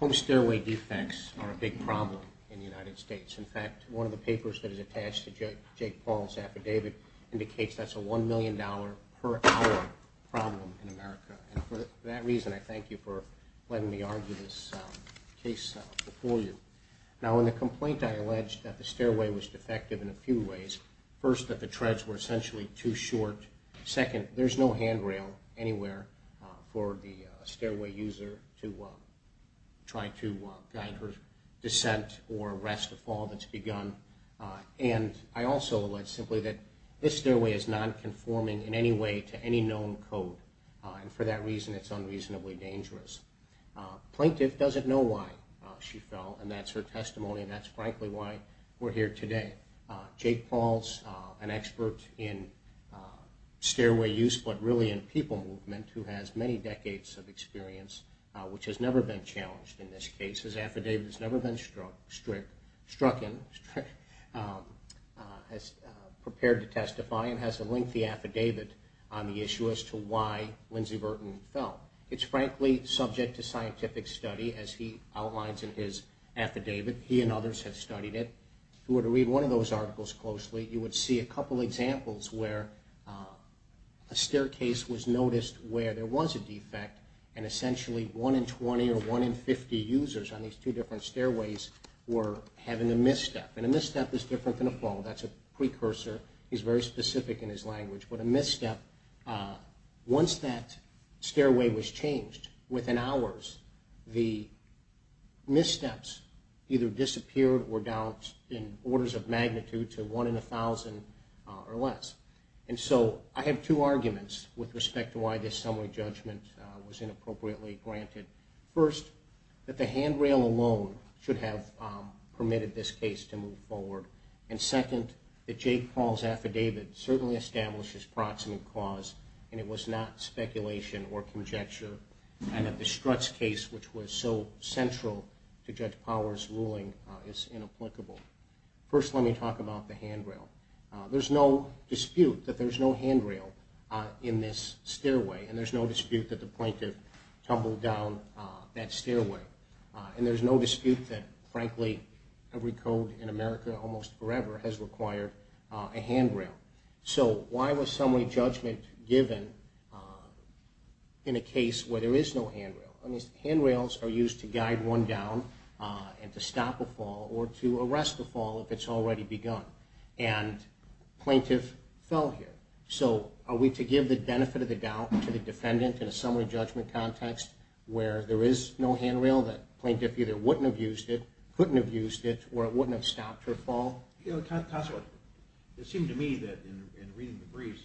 Home stairway defects are a big problem in the United States. In fact, one of the papers that is attached to Jake Paul's affidavit indicates that's a one million dollar per hour problem in America. And for that reason, I thank you for letting me argue this case before you. Now, in the complaint, I allege that the stairway was defective in a few ways. First, that the treads were essentially too short. Second, there's no handrail anywhere for the stairway user to try to guide her descent or arrest a fall that's begun. And I also allege simply that this stairway is non-conforming in any way to any known code. And for that reason, it's unreasonably dangerous. Plaintiff doesn't know why she fell, and that's her testimony, and that's frankly why we're here today. Jake Paul's an expert in stairway use, but really in people movement, who has many decades of experience, which has never been challenged in this case. His affidavit has never been struck in, prepared to testify, and has a lengthy affidavit on the issue as to why Lindsay Burton fell. It's frankly subject to scientific study, as he outlines in his affidavit. He and others have studied it. If you were to read one of those articles closely, you would see a couple examples where a staircase was noticed where there was a defect, and essentially 1 in 20 or 1 in 50 users on these two different stairways were having a misstep. And a misstep is different than a fall. That's a precursor. He's very specific in his language. But a misstep, once that stairway was changed, within hours, the missteps either disappeared or down in orders of magnitude to 1 in 1,000 or less. And so I have two arguments with respect to why this summary judgment was inappropriately granted. First, that the handrail alone should have permitted this case to move forward. And second, that Jake Paul's affidavit certainly establishes proximate cause, and it was not speculation or conjecture, and that the Strutz case, which was so central to Judge Power's ruling, is inapplicable. First, let me talk about the handrail. There's no dispute that there's no handrail in this stairway, and there's no dispute that the plaintiff tumbled down that stairway. And there's no dispute that, frankly, every code in America almost forever has required a handrail. So why was summary judgment given in a case where there is no handrail? I mean, handrails are used to guide one down and to stop a fall or to arrest a fall if it's already begun. And plaintiff fell here. So are we to give the benefit of the doubt to the defendant in a summary judgment context where there is no handrail, that plaintiff either wouldn't have used it, couldn't have used it, or it wouldn't have stopped her fall? It seemed to me that in reading the briefs,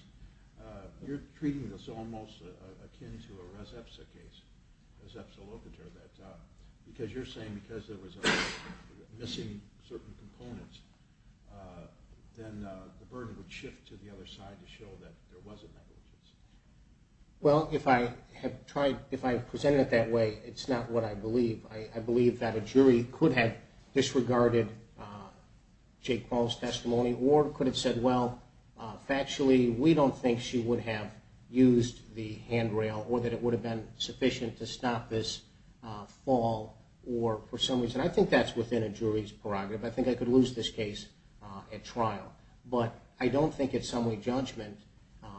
you're treating this almost akin to a Res Epsa case, Res Epsa Locator, that because you're saying because there was a missing certain component, then the burden would shift to the other side to show that there was a negligence. Well, if I have tried, if I presented it that way, it's not what I believe. I believe that a jury could have disregarded Jake Paul's testimony or could have said, well, factually, we don't think she would have used the handrail or that it would have been sufficient to stop this fall or for some reason. And I think that's within a jury's prerogative. I think I could lose this case at trial. But I don't think it's summary judgment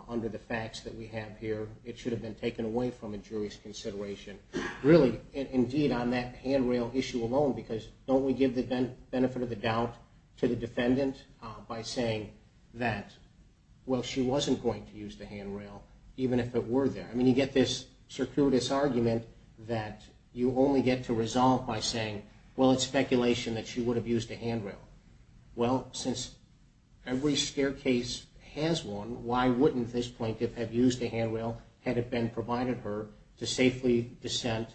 under the facts that we have here. It should have been taken away from a jury's consideration. Really, indeed, on that handrail issue alone, because don't we give the benefit of the doubt to the defendant by saying that, well, she wasn't going to use the handrail, even if it were there? I mean, you get this circuitous argument that you only get to resolve by saying, well, it's speculation that she would have used a handrail. Well, since every staircase has one, why wouldn't this plaintiff have used a handrail had it been provided her to safely descent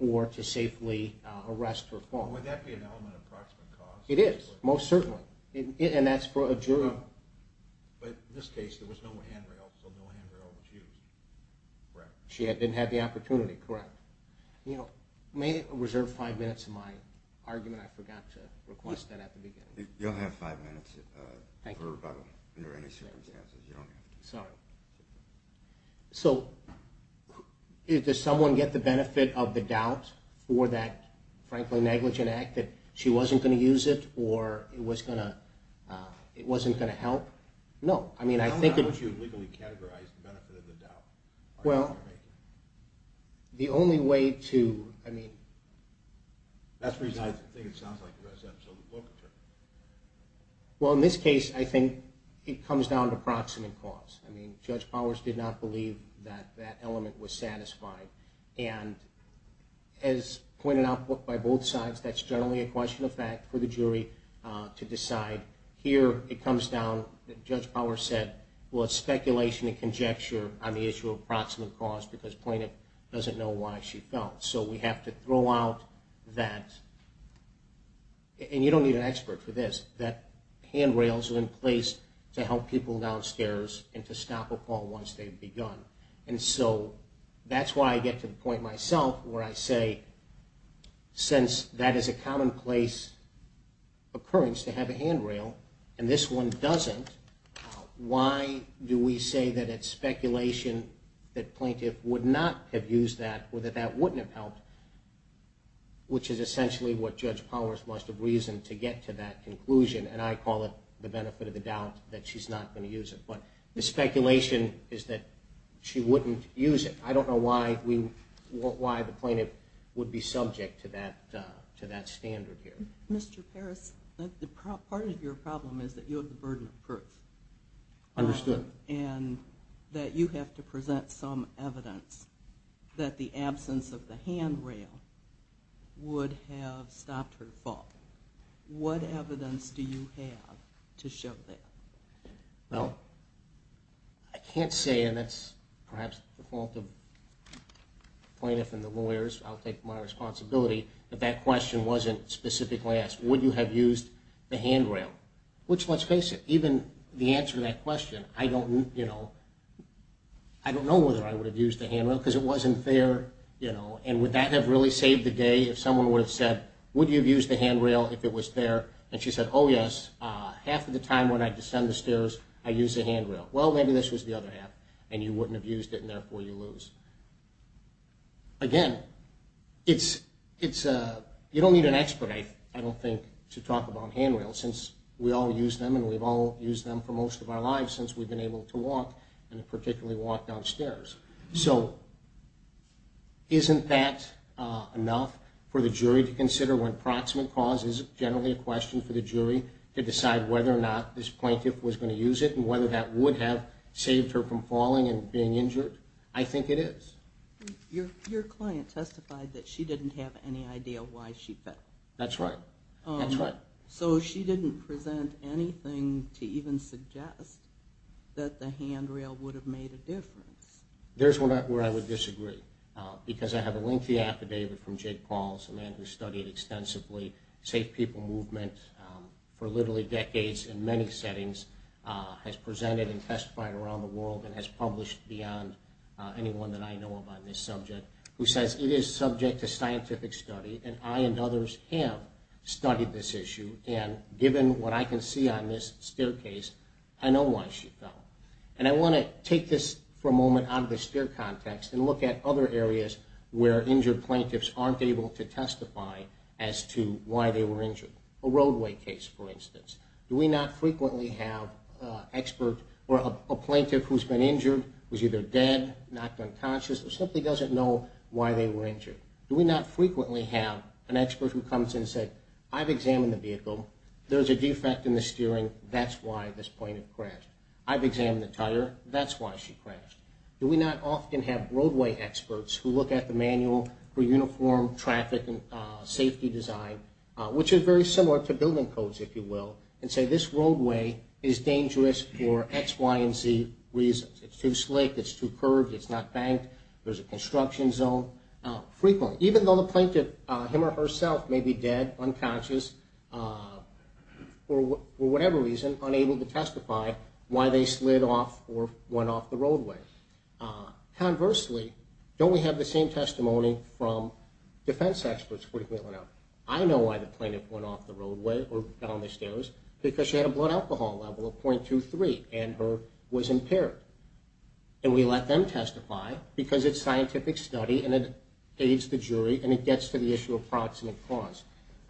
or to safely arrest her fall? Would that be an element of proximate cause? It is, most certainly. And that's for a jury. But in this case, there was no handrail, so no handrail was used, correct? She didn't have the opportunity, correct. You know, may I reserve five minutes of my argument? I forgot to request that at the beginning. You'll have five minutes for rebuttal under any circumstances. So does someone get the benefit of the doubt for that, frankly, negligent act that she wasn't going to use it or it wasn't going to help? No. How would you legally categorize the benefit of the doubt? Well, the only way to, I mean... That's the reason I think it sounds like there was absolute locature. Well, in this case, I think it comes down to proximate cause. I mean, Judge Powers did not believe that that element was satisfied. And as pointed out by both sides, that's generally a question of fact for the jury to decide. Here, it comes down, Judge Powers said, well, it's speculation and conjecture on the issue of proximate cause because plaintiff doesn't know why she fell. So we have to throw out that, and you don't need an expert for this, that handrails are in place to help people downstairs and to stop a call once they've begun. And so that's why I get to the point myself where I say, since that is a commonplace occurrence to have a handrail and this one doesn't, why do we say that it's speculation that plaintiff would not have used that or that that wouldn't have helped, which is essentially what Judge Powers must have reasoned to get to that conclusion. And I call it the benefit of the doubt that she's not going to use it. But the speculation is that she wouldn't use it. I don't know why the plaintiff would be subject to that standard here. Mr. Parris, part of your problem is that you have the burden of proof. Understood. And that you have to present some evidence that the absence of the handrail would have stopped her fall. What evidence do you have to show that? Well, I can't say, and that's perhaps the fault of the plaintiff and the lawyers. I'll take my responsibility if that question wasn't specifically asked. Would you have used the handrail? Which, let's face it, even the answer to that question, I don't know whether I would have used the handrail because it wasn't there. And would that have really saved the day if someone would have said, would you have used the handrail if it was there? And she said, oh, yes, half of the time when I descend the stairs, I use the handrail. Well, maybe this was the other half and you wouldn't have used it and therefore you lose. Again, you don't need an expert, I don't think, to talk about handrails since we all use them and we've all used them for most of our lives since we've been able to walk and particularly walk down stairs. So isn't that enough for the jury to consider when proximate cause is generally a question for the jury to decide whether or not this plaintiff was going to use it and whether that would have saved her from falling and being injured? I think it is. Your client testified that she didn't have any idea why she fell. That's right, that's right. So she didn't present anything to even suggest that the handrail would have made a difference. There's where I would disagree because I have a lengthy affidavit from Jake Pauls, a man who studied extensively safe people movement for literally decades in many settings, has presented and testified around the world and has published beyond anyone that I know of on this subject, who says it is subject to scientific study and I and others have studied this issue and given what I can see on this staircase, I know why she fell. And I want to take this for a moment out of the stair context and look at other areas where injured plaintiffs aren't able to testify as to why they were injured. A roadway case, for instance. Do we not frequently have an expert or a plaintiff who's been injured, who's either dead, knocked unconscious, or simply doesn't know why they were injured? Do we not frequently have an expert who comes in and says, I've examined the vehicle, there's a defect in the steering, that's why this plaintiff crashed. I've examined the tire, that's why she crashed. Do we not often have roadway experts who look at the manual for uniform traffic and safety design, which is very similar to building codes, if you will, and say this roadway is dangerous for X, Y, and Z reasons. It's too slick, it's too curved, it's not banked, there's a construction zone. Frequently. Even though the plaintiff, him or herself, may be dead, unconscious, or for whatever reason unable to testify why they slid off or went off the roadway. Conversely, don't we have the same testimony from defense experts frequently enough? I know why the plaintiff went off the roadway or got on the stairs, because she had a blood alcohol level of .23 and her was impaired. And we let them testify because it's scientific study and it aids the jury and it gets to the issue of proximate cause.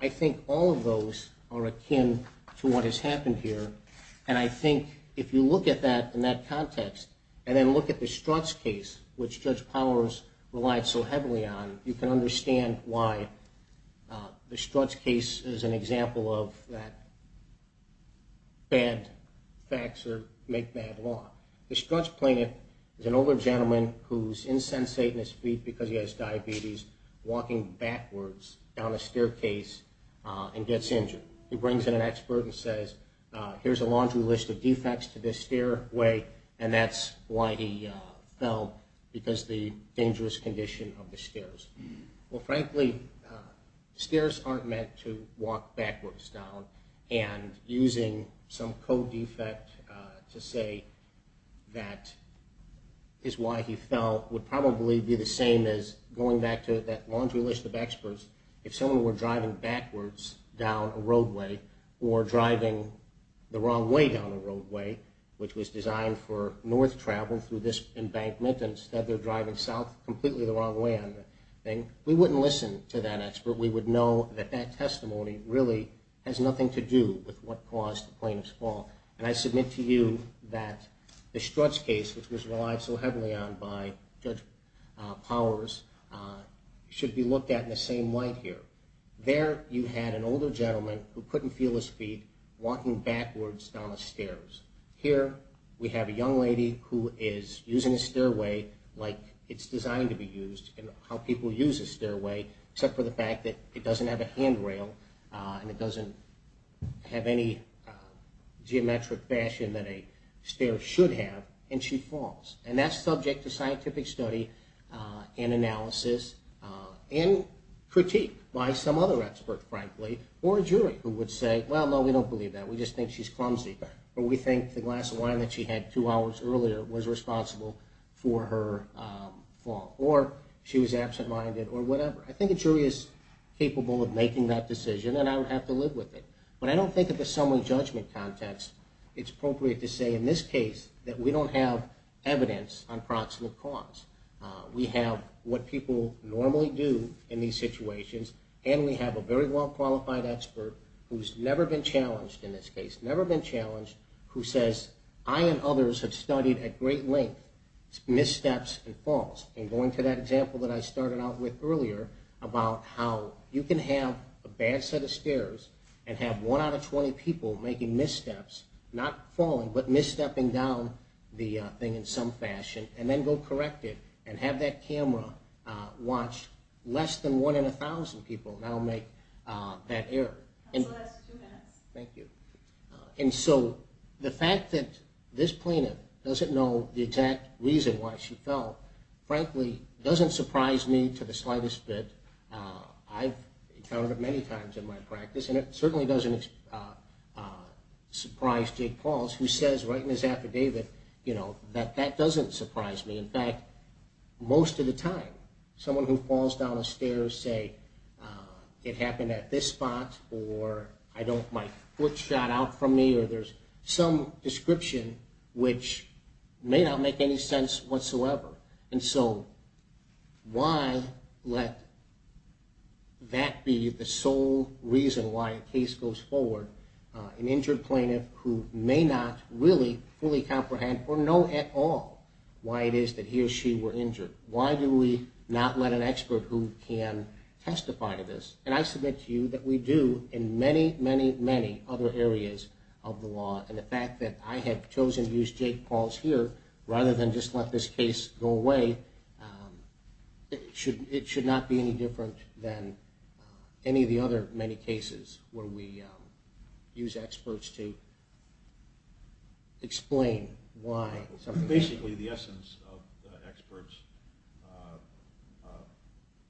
I think all of those are akin to what has happened here, and I think if you look at that in that context and then look at the Strutz case, which Judge Powers relied so heavily on, you can understand why the Strutz case is an example of that bad facts make bad law. The Strutz plaintiff is an older gentleman who's insensate in his feet because he has diabetes, walking backwards down a staircase and gets injured. He brings in an expert and says, here's a laundry list of defects to this stairway, and that's why he fell, because the dangerous condition of the stairs. Well, frankly, stairs aren't meant to walk backwards down, and using some code defect to say that is why he fell would probably be the same as going back to that laundry list of experts. If someone were driving backwards down a roadway or driving the wrong way down a roadway, which was designed for north travel through this embankment, and instead they're driving south completely the wrong way on the thing, we wouldn't listen to that expert. We would know that that testimony really has nothing to do with what caused the plaintiff's fall. And I submit to you that the Strutz case, which was relied so heavily on by Judge Powers, should be looked at in the same light here. There you had an older gentleman who couldn't feel his feet walking backwards down the stairs. Here we have a young lady who is using a stairway like it's designed to be used, and how people use a stairway, except for the fact that it doesn't have a handrail and it doesn't have any geometric fashion that a stair should have, and she falls. And that's subject to scientific study and analysis and critique by some other expert, frankly, or a jury who would say, well, no, we don't believe that. We just think she's clumsy, or we think the glass of wine that she had two hours earlier was responsible for her fall, or she was absent-minded, or whatever. I think a jury is capable of making that decision, and I would have to live with it. But I don't think if it's someone's judgment context, it's appropriate to say in this case that we don't have evidence on proximate cause. We have what people normally do in these situations, and we have a very well-qualified expert who's never been challenged in this case, never been challenged, who says, I and others have studied at great length missteps and falls. And going to that example that I started out with earlier about how you can have a bad set of stairs and have one out of 20 people making missteps, not falling, but misstepping down the thing in some fashion, and then go correct it and have that camera watch less than one in 1,000 people now make that error. That's two minutes. Thank you. And so the fact that this plaintiff doesn't know the exact reason why she fell, frankly, doesn't surprise me to the slightest bit. I've encountered it many times in my practice, and it certainly doesn't surprise Jake Pauls, who says right in his affidavit that that doesn't surprise me. In fact, most of the time, someone who falls down a stair will say, it happened at this spot, or my foot shot out from me, or there's some description which may not make any sense whatsoever. And so why let that be the sole reason why a case goes forward, an injured plaintiff who may not really fully comprehend or know at all why it is that he or she were injured? Why do we not let an expert who can testify to this? And I submit to you that we do in many, many, many other areas of the law. And the fact that I have chosen to use Jake Pauls here rather than just let this case go away, it should not be any different than any of the other many cases where we use experts to explain why. Basically, the essence of the expert's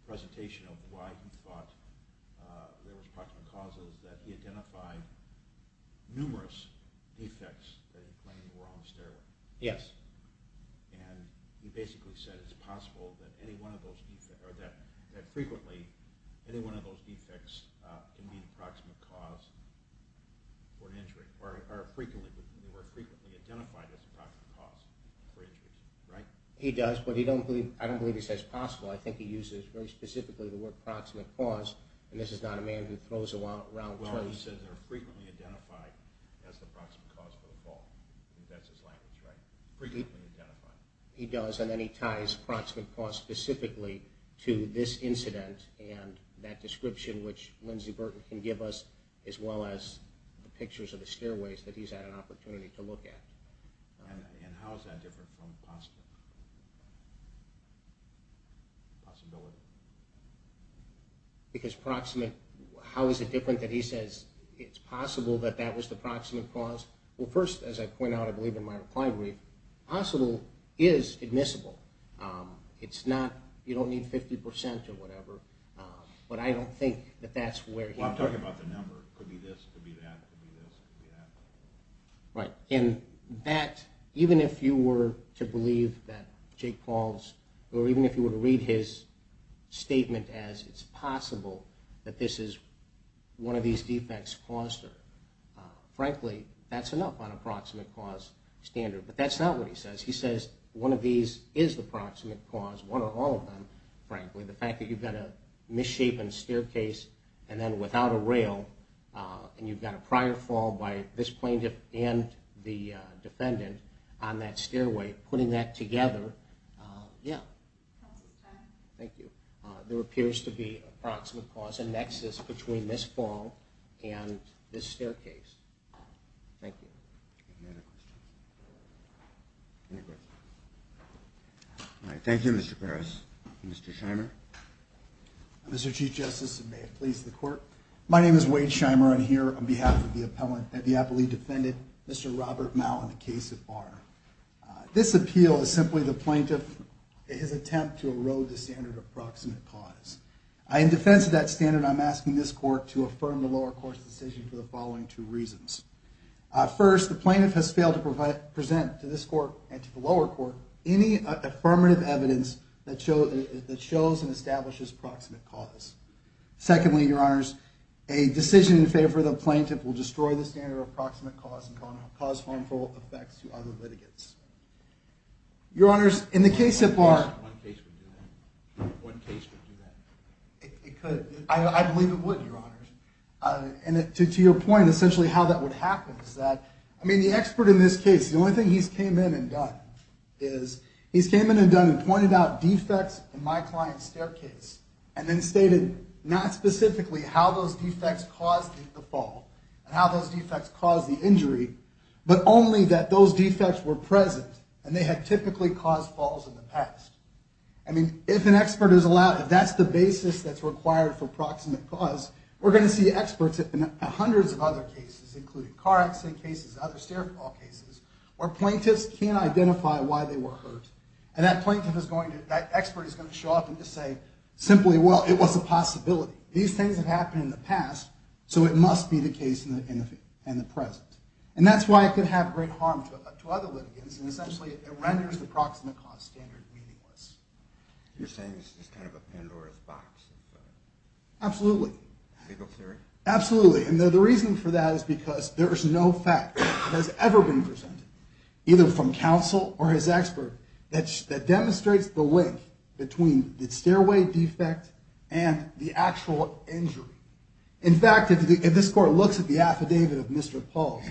presentation of why he thought there was Yes. And he basically said it's possible that any one of those defects, or that frequently any one of those defects can be an approximate cause for an injury, or are frequently identified as the approximate cause for injury, right? He does, but I don't believe he says possible. I think he uses very specifically the word approximate cause, and this is not a man who throws around terms. No, he says they're frequently identified as the approximate cause for the fall. I think that's his language, right? Frequently identified. He does, and then he ties approximate cause specifically to this incident and that description which Lindsay Burton can give us, as well as the pictures of the stairways that he's had an opportunity to look at. And how is that different from possible? Possibility? Because approximate, how is it different that he says it's possible that that was the approximate cause? Well, first, as I point out, I believe in my reply brief, possible is admissible. It's not, you don't need 50% or whatever, but I don't think that that's where he... Well, I'm talking about the number. Could be this, could be that, could be this, could be that. Right, and that, even if you were to believe that Jake Paul's, or even if you were to read his statement as, it's possible that this is one of these defects caused her. Frankly, that's enough on approximate cause standard. But that's not what he says. He says one of these is the approximate cause, one or all of them, frankly. The fact that you've got a misshapen staircase and then without a rail, and you've got a prior fall by this plaintiff and the defendant on that stairway, putting that together, yeah. Thank you. There appears to be approximate cause, a nexus between this fall and this staircase. Thank you. Thank you, Mr. Parris. Mr. Shimer? Mr. Chief Justice, and may it please the Court, my name is Wade Shimer. I'm here on behalf of the appellant that the appellee defended, Mr. Robert Mouw in the case of Barr. This appeal is simply the plaintiff, his attempt to erode the standard of approximate cause. In defense of that standard, I'm asking this Court to affirm the lower court's decision for the following two reasons. First, the plaintiff has failed to present to this Court and to the lower court any affirmative evidence that shows and establishes approximate cause. Secondly, Your Honors, a decision in favor of the plaintiff will destroy the standard of approximate cause and cause harmful effects to other litigants. Your Honors, in the case of Barr- One case would do that. One case would do that. It could. I believe it would, Your Honors. And to your point, essentially how that would happen is that, I mean the expert in this case, the only thing he's came in and done is, he's came in and done and pointed out defects in my client's staircase and then stated not specifically how those defects caused the fall and how those defects caused the injury, but only that those defects were present and they had typically caused falls in the past. I mean, if an expert is allowed, if that's the basis that's required for approximate cause, we're going to see experts in hundreds of other cases, including car accident cases, other stair fall cases, where plaintiffs can't identify why they were hurt. And that plaintiff is going to, that expert is going to show up and just say, simply, well, it was a possibility. These things have happened in the past, so it must be the case in the present. And that's why it could have great harm to other litigants, and essentially it renders the approximate cause standard meaningless. You're saying this is kind of a Pandora's box. Absolutely. Legal theory? Absolutely. And the reason for that is because there is no fact that has ever been presented, either from counsel or his expert, that demonstrates the link between the stairway defect and the actual injury. In fact, if this court looks at the affidavit of Mr. Polk,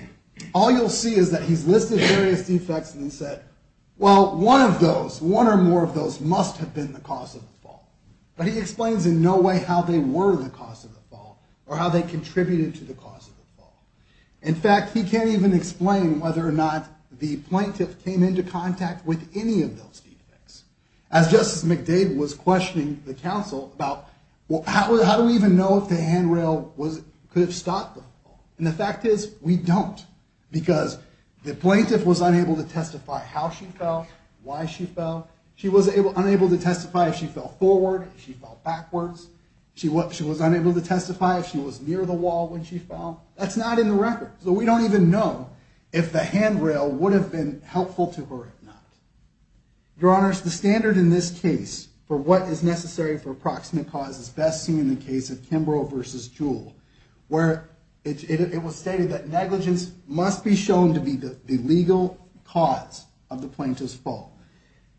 all you'll see is that he's listed various defects and he said, well, one of those, one or more of those must have been the cause of the fall. But he explains in no way how they were the cause of the fall or how they contributed to the cause of the fall. In fact, he can't even explain whether or not the plaintiff came into contact with any of those defects. As Justice McDade was questioning the counsel about, how do we even know if the handrail could have stopped the fall? And the fact is, we don't, because the plaintiff was unable to testify how she fell, why she fell. She was unable to testify if she fell forward, if she fell backwards. She was unable to testify if she was near the wall when she fell. That's not in the record. So we don't even know if the handrail would have been helpful to her or not. Your Honors, the standard in this case for what is necessary for proximate cause is best seen in the case of Kimbrough v. Jewell, where it was stated that negligence must be shown to be the legal cause of the plaintiff's fall.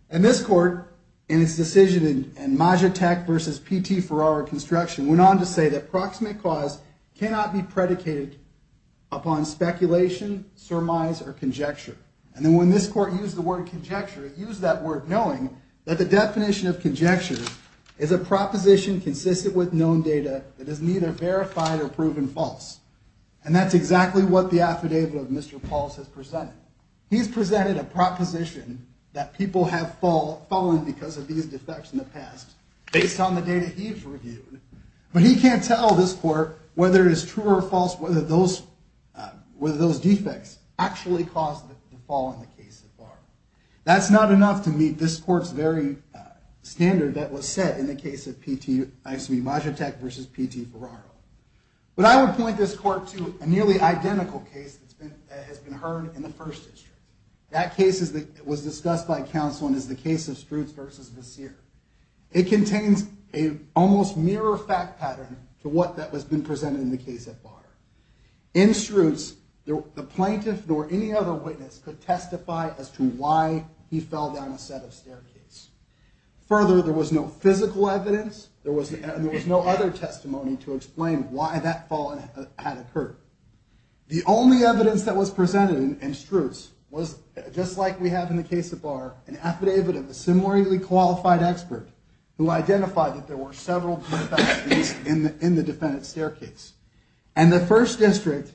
And this court, in its decision in Majatek v. P.T. Ferrara Construction, went on to say that proximate cause cannot be predicated upon speculation, surmise, or conjecture. And then when this court used the word conjecture, it used that word knowing that the definition of conjecture is a proposition consistent with known data that is neither verified or proven false. And that's exactly what the affidavit of Mr. Pauls has presented. He's presented a proposition that people have fallen because of these defects in the past, based on the data he's reviewed. But he can't tell this court whether it is true or false, whether those defects actually caused the fall in the case so far. That's not enough to meet this court's very standard that was set in the case of P.T. Majatek v. P.T. Ferrara. But I would point this court to a nearly identical case that has been heard in the First District. That case was discussed by counsel and is the case of Struetz v. Vasseer. It contains an almost mirror fact pattern to what that has been presented in the case at bar. In Struetz, the plaintiff nor any other witness could testify as to why he fell down a set of staircases. Further, there was no physical evidence. There was no other testimony to explain why that fall had occurred. The only evidence that was presented in Struetz was just like we have in the case at bar, an affidavit of a similarly qualified expert who identified that there were several defects in the defendant's staircase. And the First District,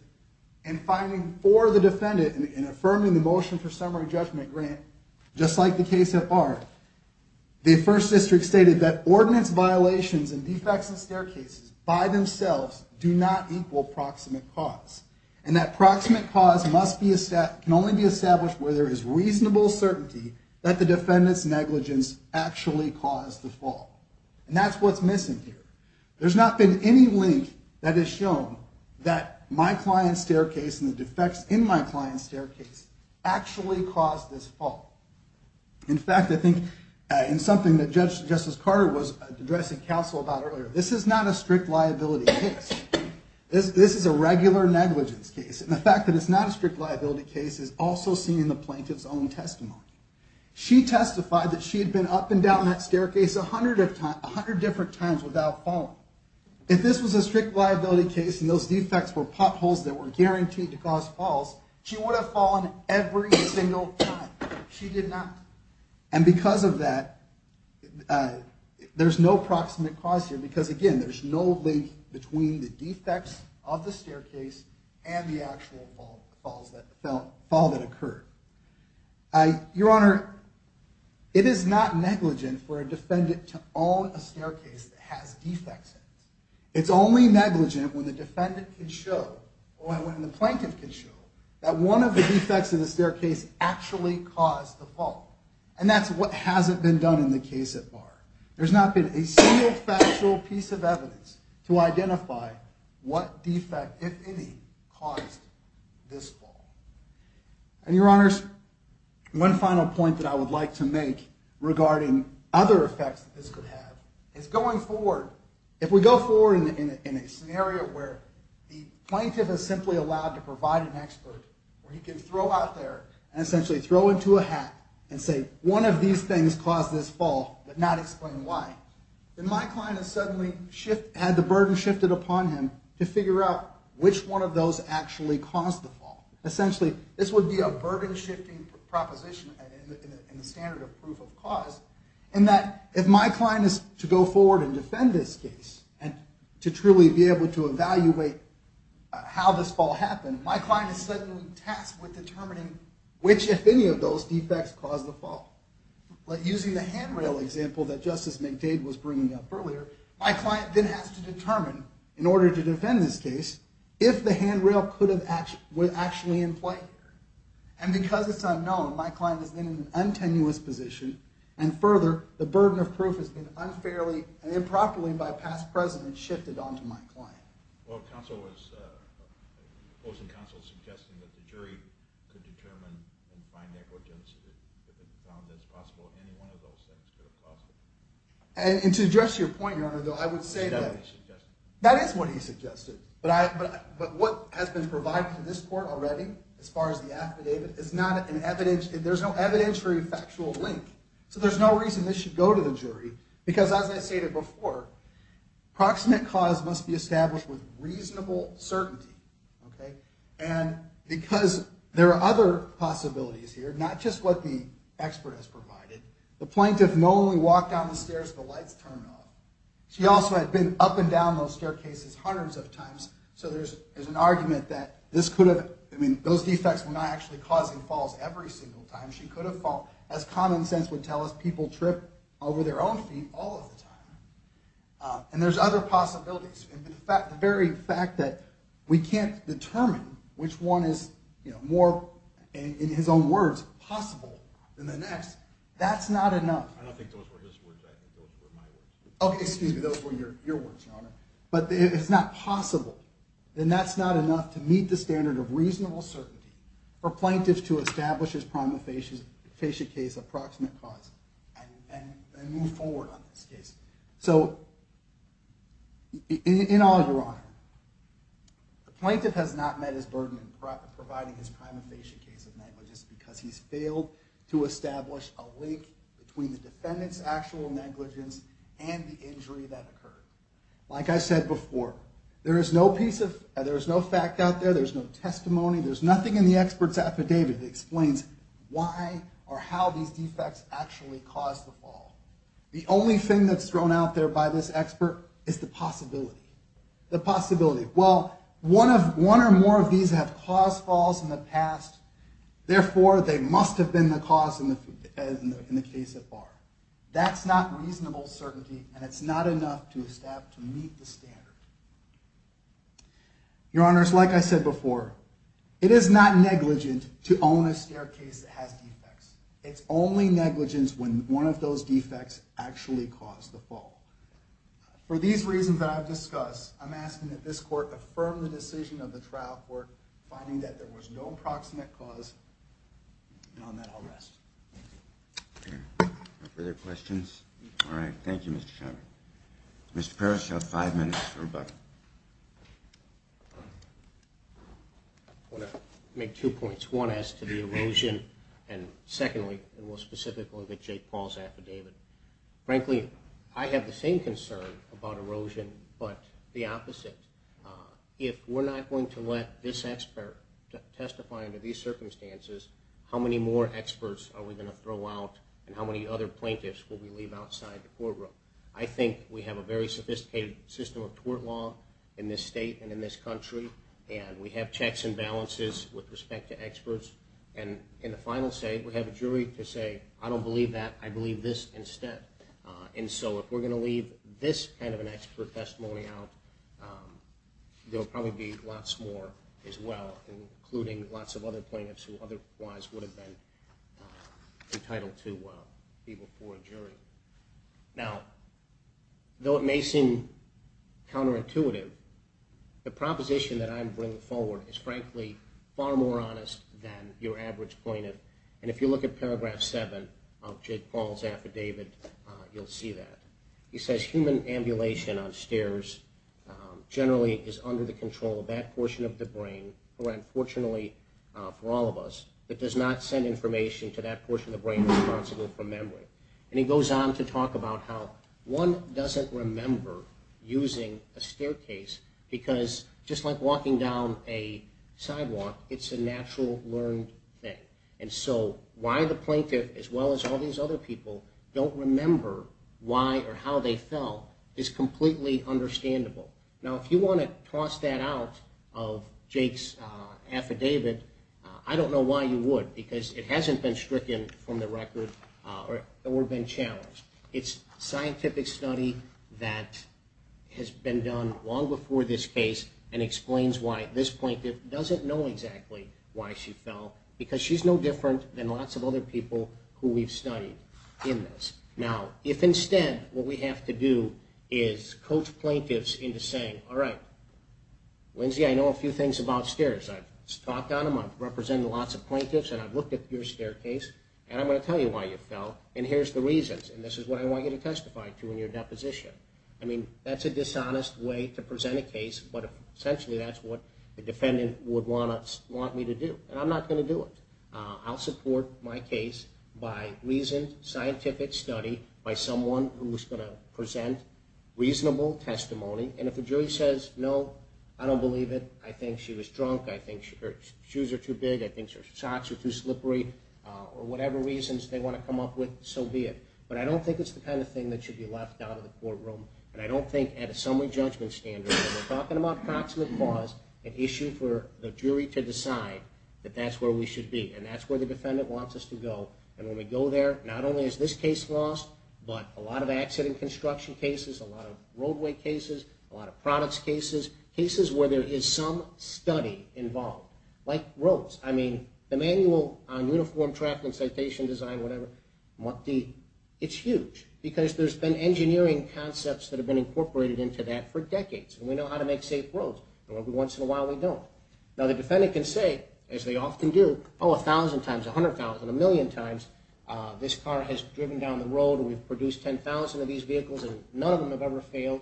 in finding for the defendant and affirming the motion for summary judgment grant, just like the case at bar, the First District stated that ordinance violations and defects in staircases by themselves do not equal proximate cause. And that proximate cause can only be established where there is reasonable certainty that the defendant's negligence actually caused the fall. And that's what's missing here. There's not been any link that has shown that my client's staircase and the defects in my client's staircase actually caused this fall. In fact, I think in something that Justice Carter was addressing counsel about earlier, this is not a strict liability case. This is a regular negligence case. And the fact that it's not a strict liability case is also seen in the plaintiff's own testimony. She testified that she had been up and down that staircase 100 different times without falling. If this was a strict liability case and those defects were potholes that were guaranteed to cause falls, she would have fallen every single time. She did not. And because of that, there's no proximate cause here because, again, there's no link between the defects of the staircase and the actual fall that occurred. Your Honor, it is not negligent for a defendant to own a staircase that has defects in it. It's only negligent when the defendant can show, or when the plaintiff can show, that one of the defects in the staircase actually caused the fall. And that's what hasn't been done in the case so far. There's not been a single factual piece of evidence to identify what defect, if any, caused this fall. And, Your Honors, one final point that I would like to make regarding other effects that this could have is going forward, if we go forward in a scenario where the plaintiff is simply allowed to provide an expert where he can throw out there and essentially throw into a hat and say, one of these things caused this fall, but not explain why, then my client has suddenly had the burden shifted upon him to figure out which one of those actually caused the fall. Essentially, this would be a burden-shifting proposition in the standard of proof of cause in that if my client is to go forward and defend this case and to truly be able to evaluate how this fall happened, my client is suddenly tasked with determining which, if any, of those defects caused the fall. Using the handrail example that Justice McDade was bringing up earlier, my client then has to determine, in order to defend this case, if the handrail was actually in play here. And because it's unknown, my client is in an untenuous position, and further, the burden of proof has been unfairly and improperly by past precedents shifted onto my client. Well, the opposing counsel was suggesting that the jury could determine and find evidence that it's possible that any one of those things could have caused it. And to address your point, Your Honor, though, I would say that... That is what he suggested. But what has been provided to this court already, as far as the affidavit, there's no evidentiary factual link. So there's no reason this should go to the jury, because, as I stated before, proximate cause must be established with reasonable certainty. And because there are other possibilities here, not just what the expert has provided. The plaintiff not only walked down the stairs of the lights terminal, she also had been up and down those staircases hundreds of times, so there's an argument that this could have... I mean, those defects were not actually causing falls every single time. She could have fallen, as common sense would tell us, people trip over their own feet all of the time. And there's other possibilities. But the very fact that we can't determine which one is more, in his own words, possible than the next, that's not enough. I don't think those were his words. I think those were my words. Okay, excuse me. Those were your words, Your Honor. But if it's not possible, then that's not enough to meet the standard of reasonable certainty for plaintiffs to establish as prima facie a case of proximate cause and move forward on this case. So, in all, Your Honor, the plaintiff has not met his burden in providing his prima facie case of negligence because he's failed to establish a link between the defendant's actual negligence and the injury that occurred. Like I said before, there is no piece of... there's no fact out there, there's no testimony, there's nothing in the expert's affidavit that explains why or how these defects actually caused the fall. The only thing that's thrown out there by this expert is the possibility. The possibility. Well, one or more of these have caused falls in the past, therefore they must have been the cause in the case so far. That's not reasonable certainty, and it's not enough to meet the standard. Your Honors, like I said before, it is not negligent to own a staircase that has defects. It's only negligence when one of those defects actually caused the fall. For these reasons that I've discussed, I'm asking that this Court affirm the decision of the trial court finding that there was no proximate cause, and on that I'll rest. No further questions? All right. Thank you, Mr. Shimer. Mr. Parrish, you have five minutes to rebut. I want to make two points. One, as to the erosion, and secondly, and we'll specifically look at Jake Paul's affidavit. Frankly, I have the same concern about erosion, but the opposite. If we're not going to let this expert testify under these circumstances, how many more experts are we going to throw out and how many other plaintiffs will we leave outside the courtroom? I think we have a very sophisticated system of court law in this state and in this country, and we have checks and balances with respect to experts, and in the final state we have a jury to say, I don't believe that, I believe this instead. And so if we're going to leave this kind of an expert testimony out, there will probably be lots more as well, including lots of other plaintiffs who otherwise would have been entitled to be before a jury. Now, though it may seem counterintuitive, the proposition that I'm bringing forward is, frankly, far more honest than your average plaintiff, and if you look at paragraph 7 of Jake Paul's affidavit, you'll see that. He says, human ambulation on stairs generally is under the control of that portion of the brain, or unfortunately for all of us, that does not send information to that portion of the brain responsible for memory. And he goes on to talk about how one doesn't remember using a staircase, because just like walking down a sidewalk, it's a natural learned thing. And so why the plaintiff, as well as all these other people, don't remember why or how they fell is completely understandable. Now, if you want to toss that out of Jake's affidavit, I don't know why you would, because it hasn't been stricken from the record or been challenged. It's scientific study that has been done long before this case and explains why this plaintiff doesn't know exactly why she fell, because she's no different than lots of other people who we've studied in this. Now, if instead what we have to do is coach plaintiffs into saying, all right, Lindsay, I know a few things about stairs. I've talked on them, I've represented lots of plaintiffs, and I've looked at your staircase, and I'm going to tell you why you fell, and here's the reasons, and this is what I want you to testify to in your deposition. I mean, that's a dishonest way to present a case, but essentially that's what the defendant would want me to do, and I'm not going to do it. I'll support my case by reasoned scientific study, by someone who is going to present reasonable testimony, and if the jury says, no, I don't believe it, I think she was drunk, I think her shoes are too big, I think her socks are too slippery, or whatever reasons they want to come up with, so be it. But I don't think it's the kind of thing that should be left out of the courtroom, and I don't think at a summary judgment standard, when we're talking about proximate cause, an issue for the jury to decide that that's where we should be, and that's where the defendant wants us to go, and when we go there, not only is this case lost, but a lot of accident construction cases, a lot of roadway cases, a lot of products cases, cases where there is some study involved. Like roads. I mean, the manual on uniform traffic and citation design, whatever, it's huge, because there's been engineering concepts that have been incorporated into that for decades, and we know how to make safe roads, and every once in a while we don't. Now the defendant can say, as they often do, oh, a thousand times, a hundred thousand, a million times, this car has driven down the road, and we've produced 10,000 of these vehicles, and none of them have ever failed.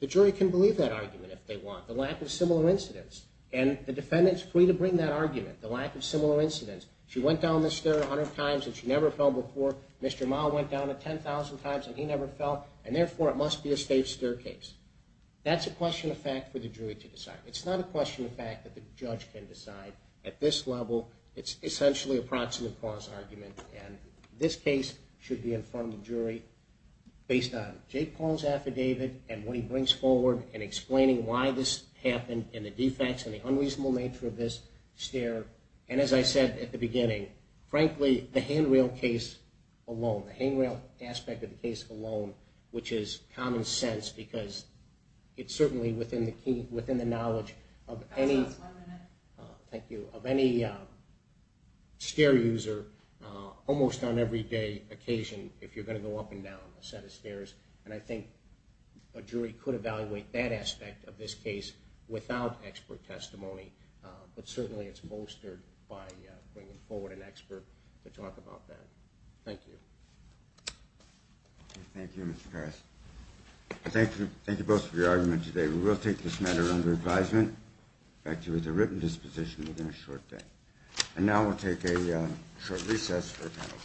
The jury can believe that argument if they want. The lack of similar incidents. And the defendant is free to bring that argument, the lack of similar incidents. She went down this stair a hundred times and she never fell before. Mr. Mahl went down it 10,000 times and he never fell, and therefore it must be a safe staircase. That's a question of fact for the jury to decide. It's not a question of fact that the judge can decide. At this level, it's essentially a proximate cause argument, and this case should be in front of the jury based on Jake Paul's affidavit and what he brings forward in explaining why this happened and the defects and the unreasonable nature of this stair. And as I said at the beginning, frankly, the handrail case alone, the handrail aspect of the case alone, which is common sense because it's certainly within the knowledge of any stair user almost on every day occasion if you're going to go up and down a set of stairs. And I think a jury could evaluate that aspect of this case without expert testimony, but certainly it's bolstered by bringing forward an expert to talk about that. Thank you. Thank you, Mr. Harris. Thank you both for your argument today. We will take this matter under advisement. In fact, it was a written disposition within a short day. And now we'll take a short recess for the panel.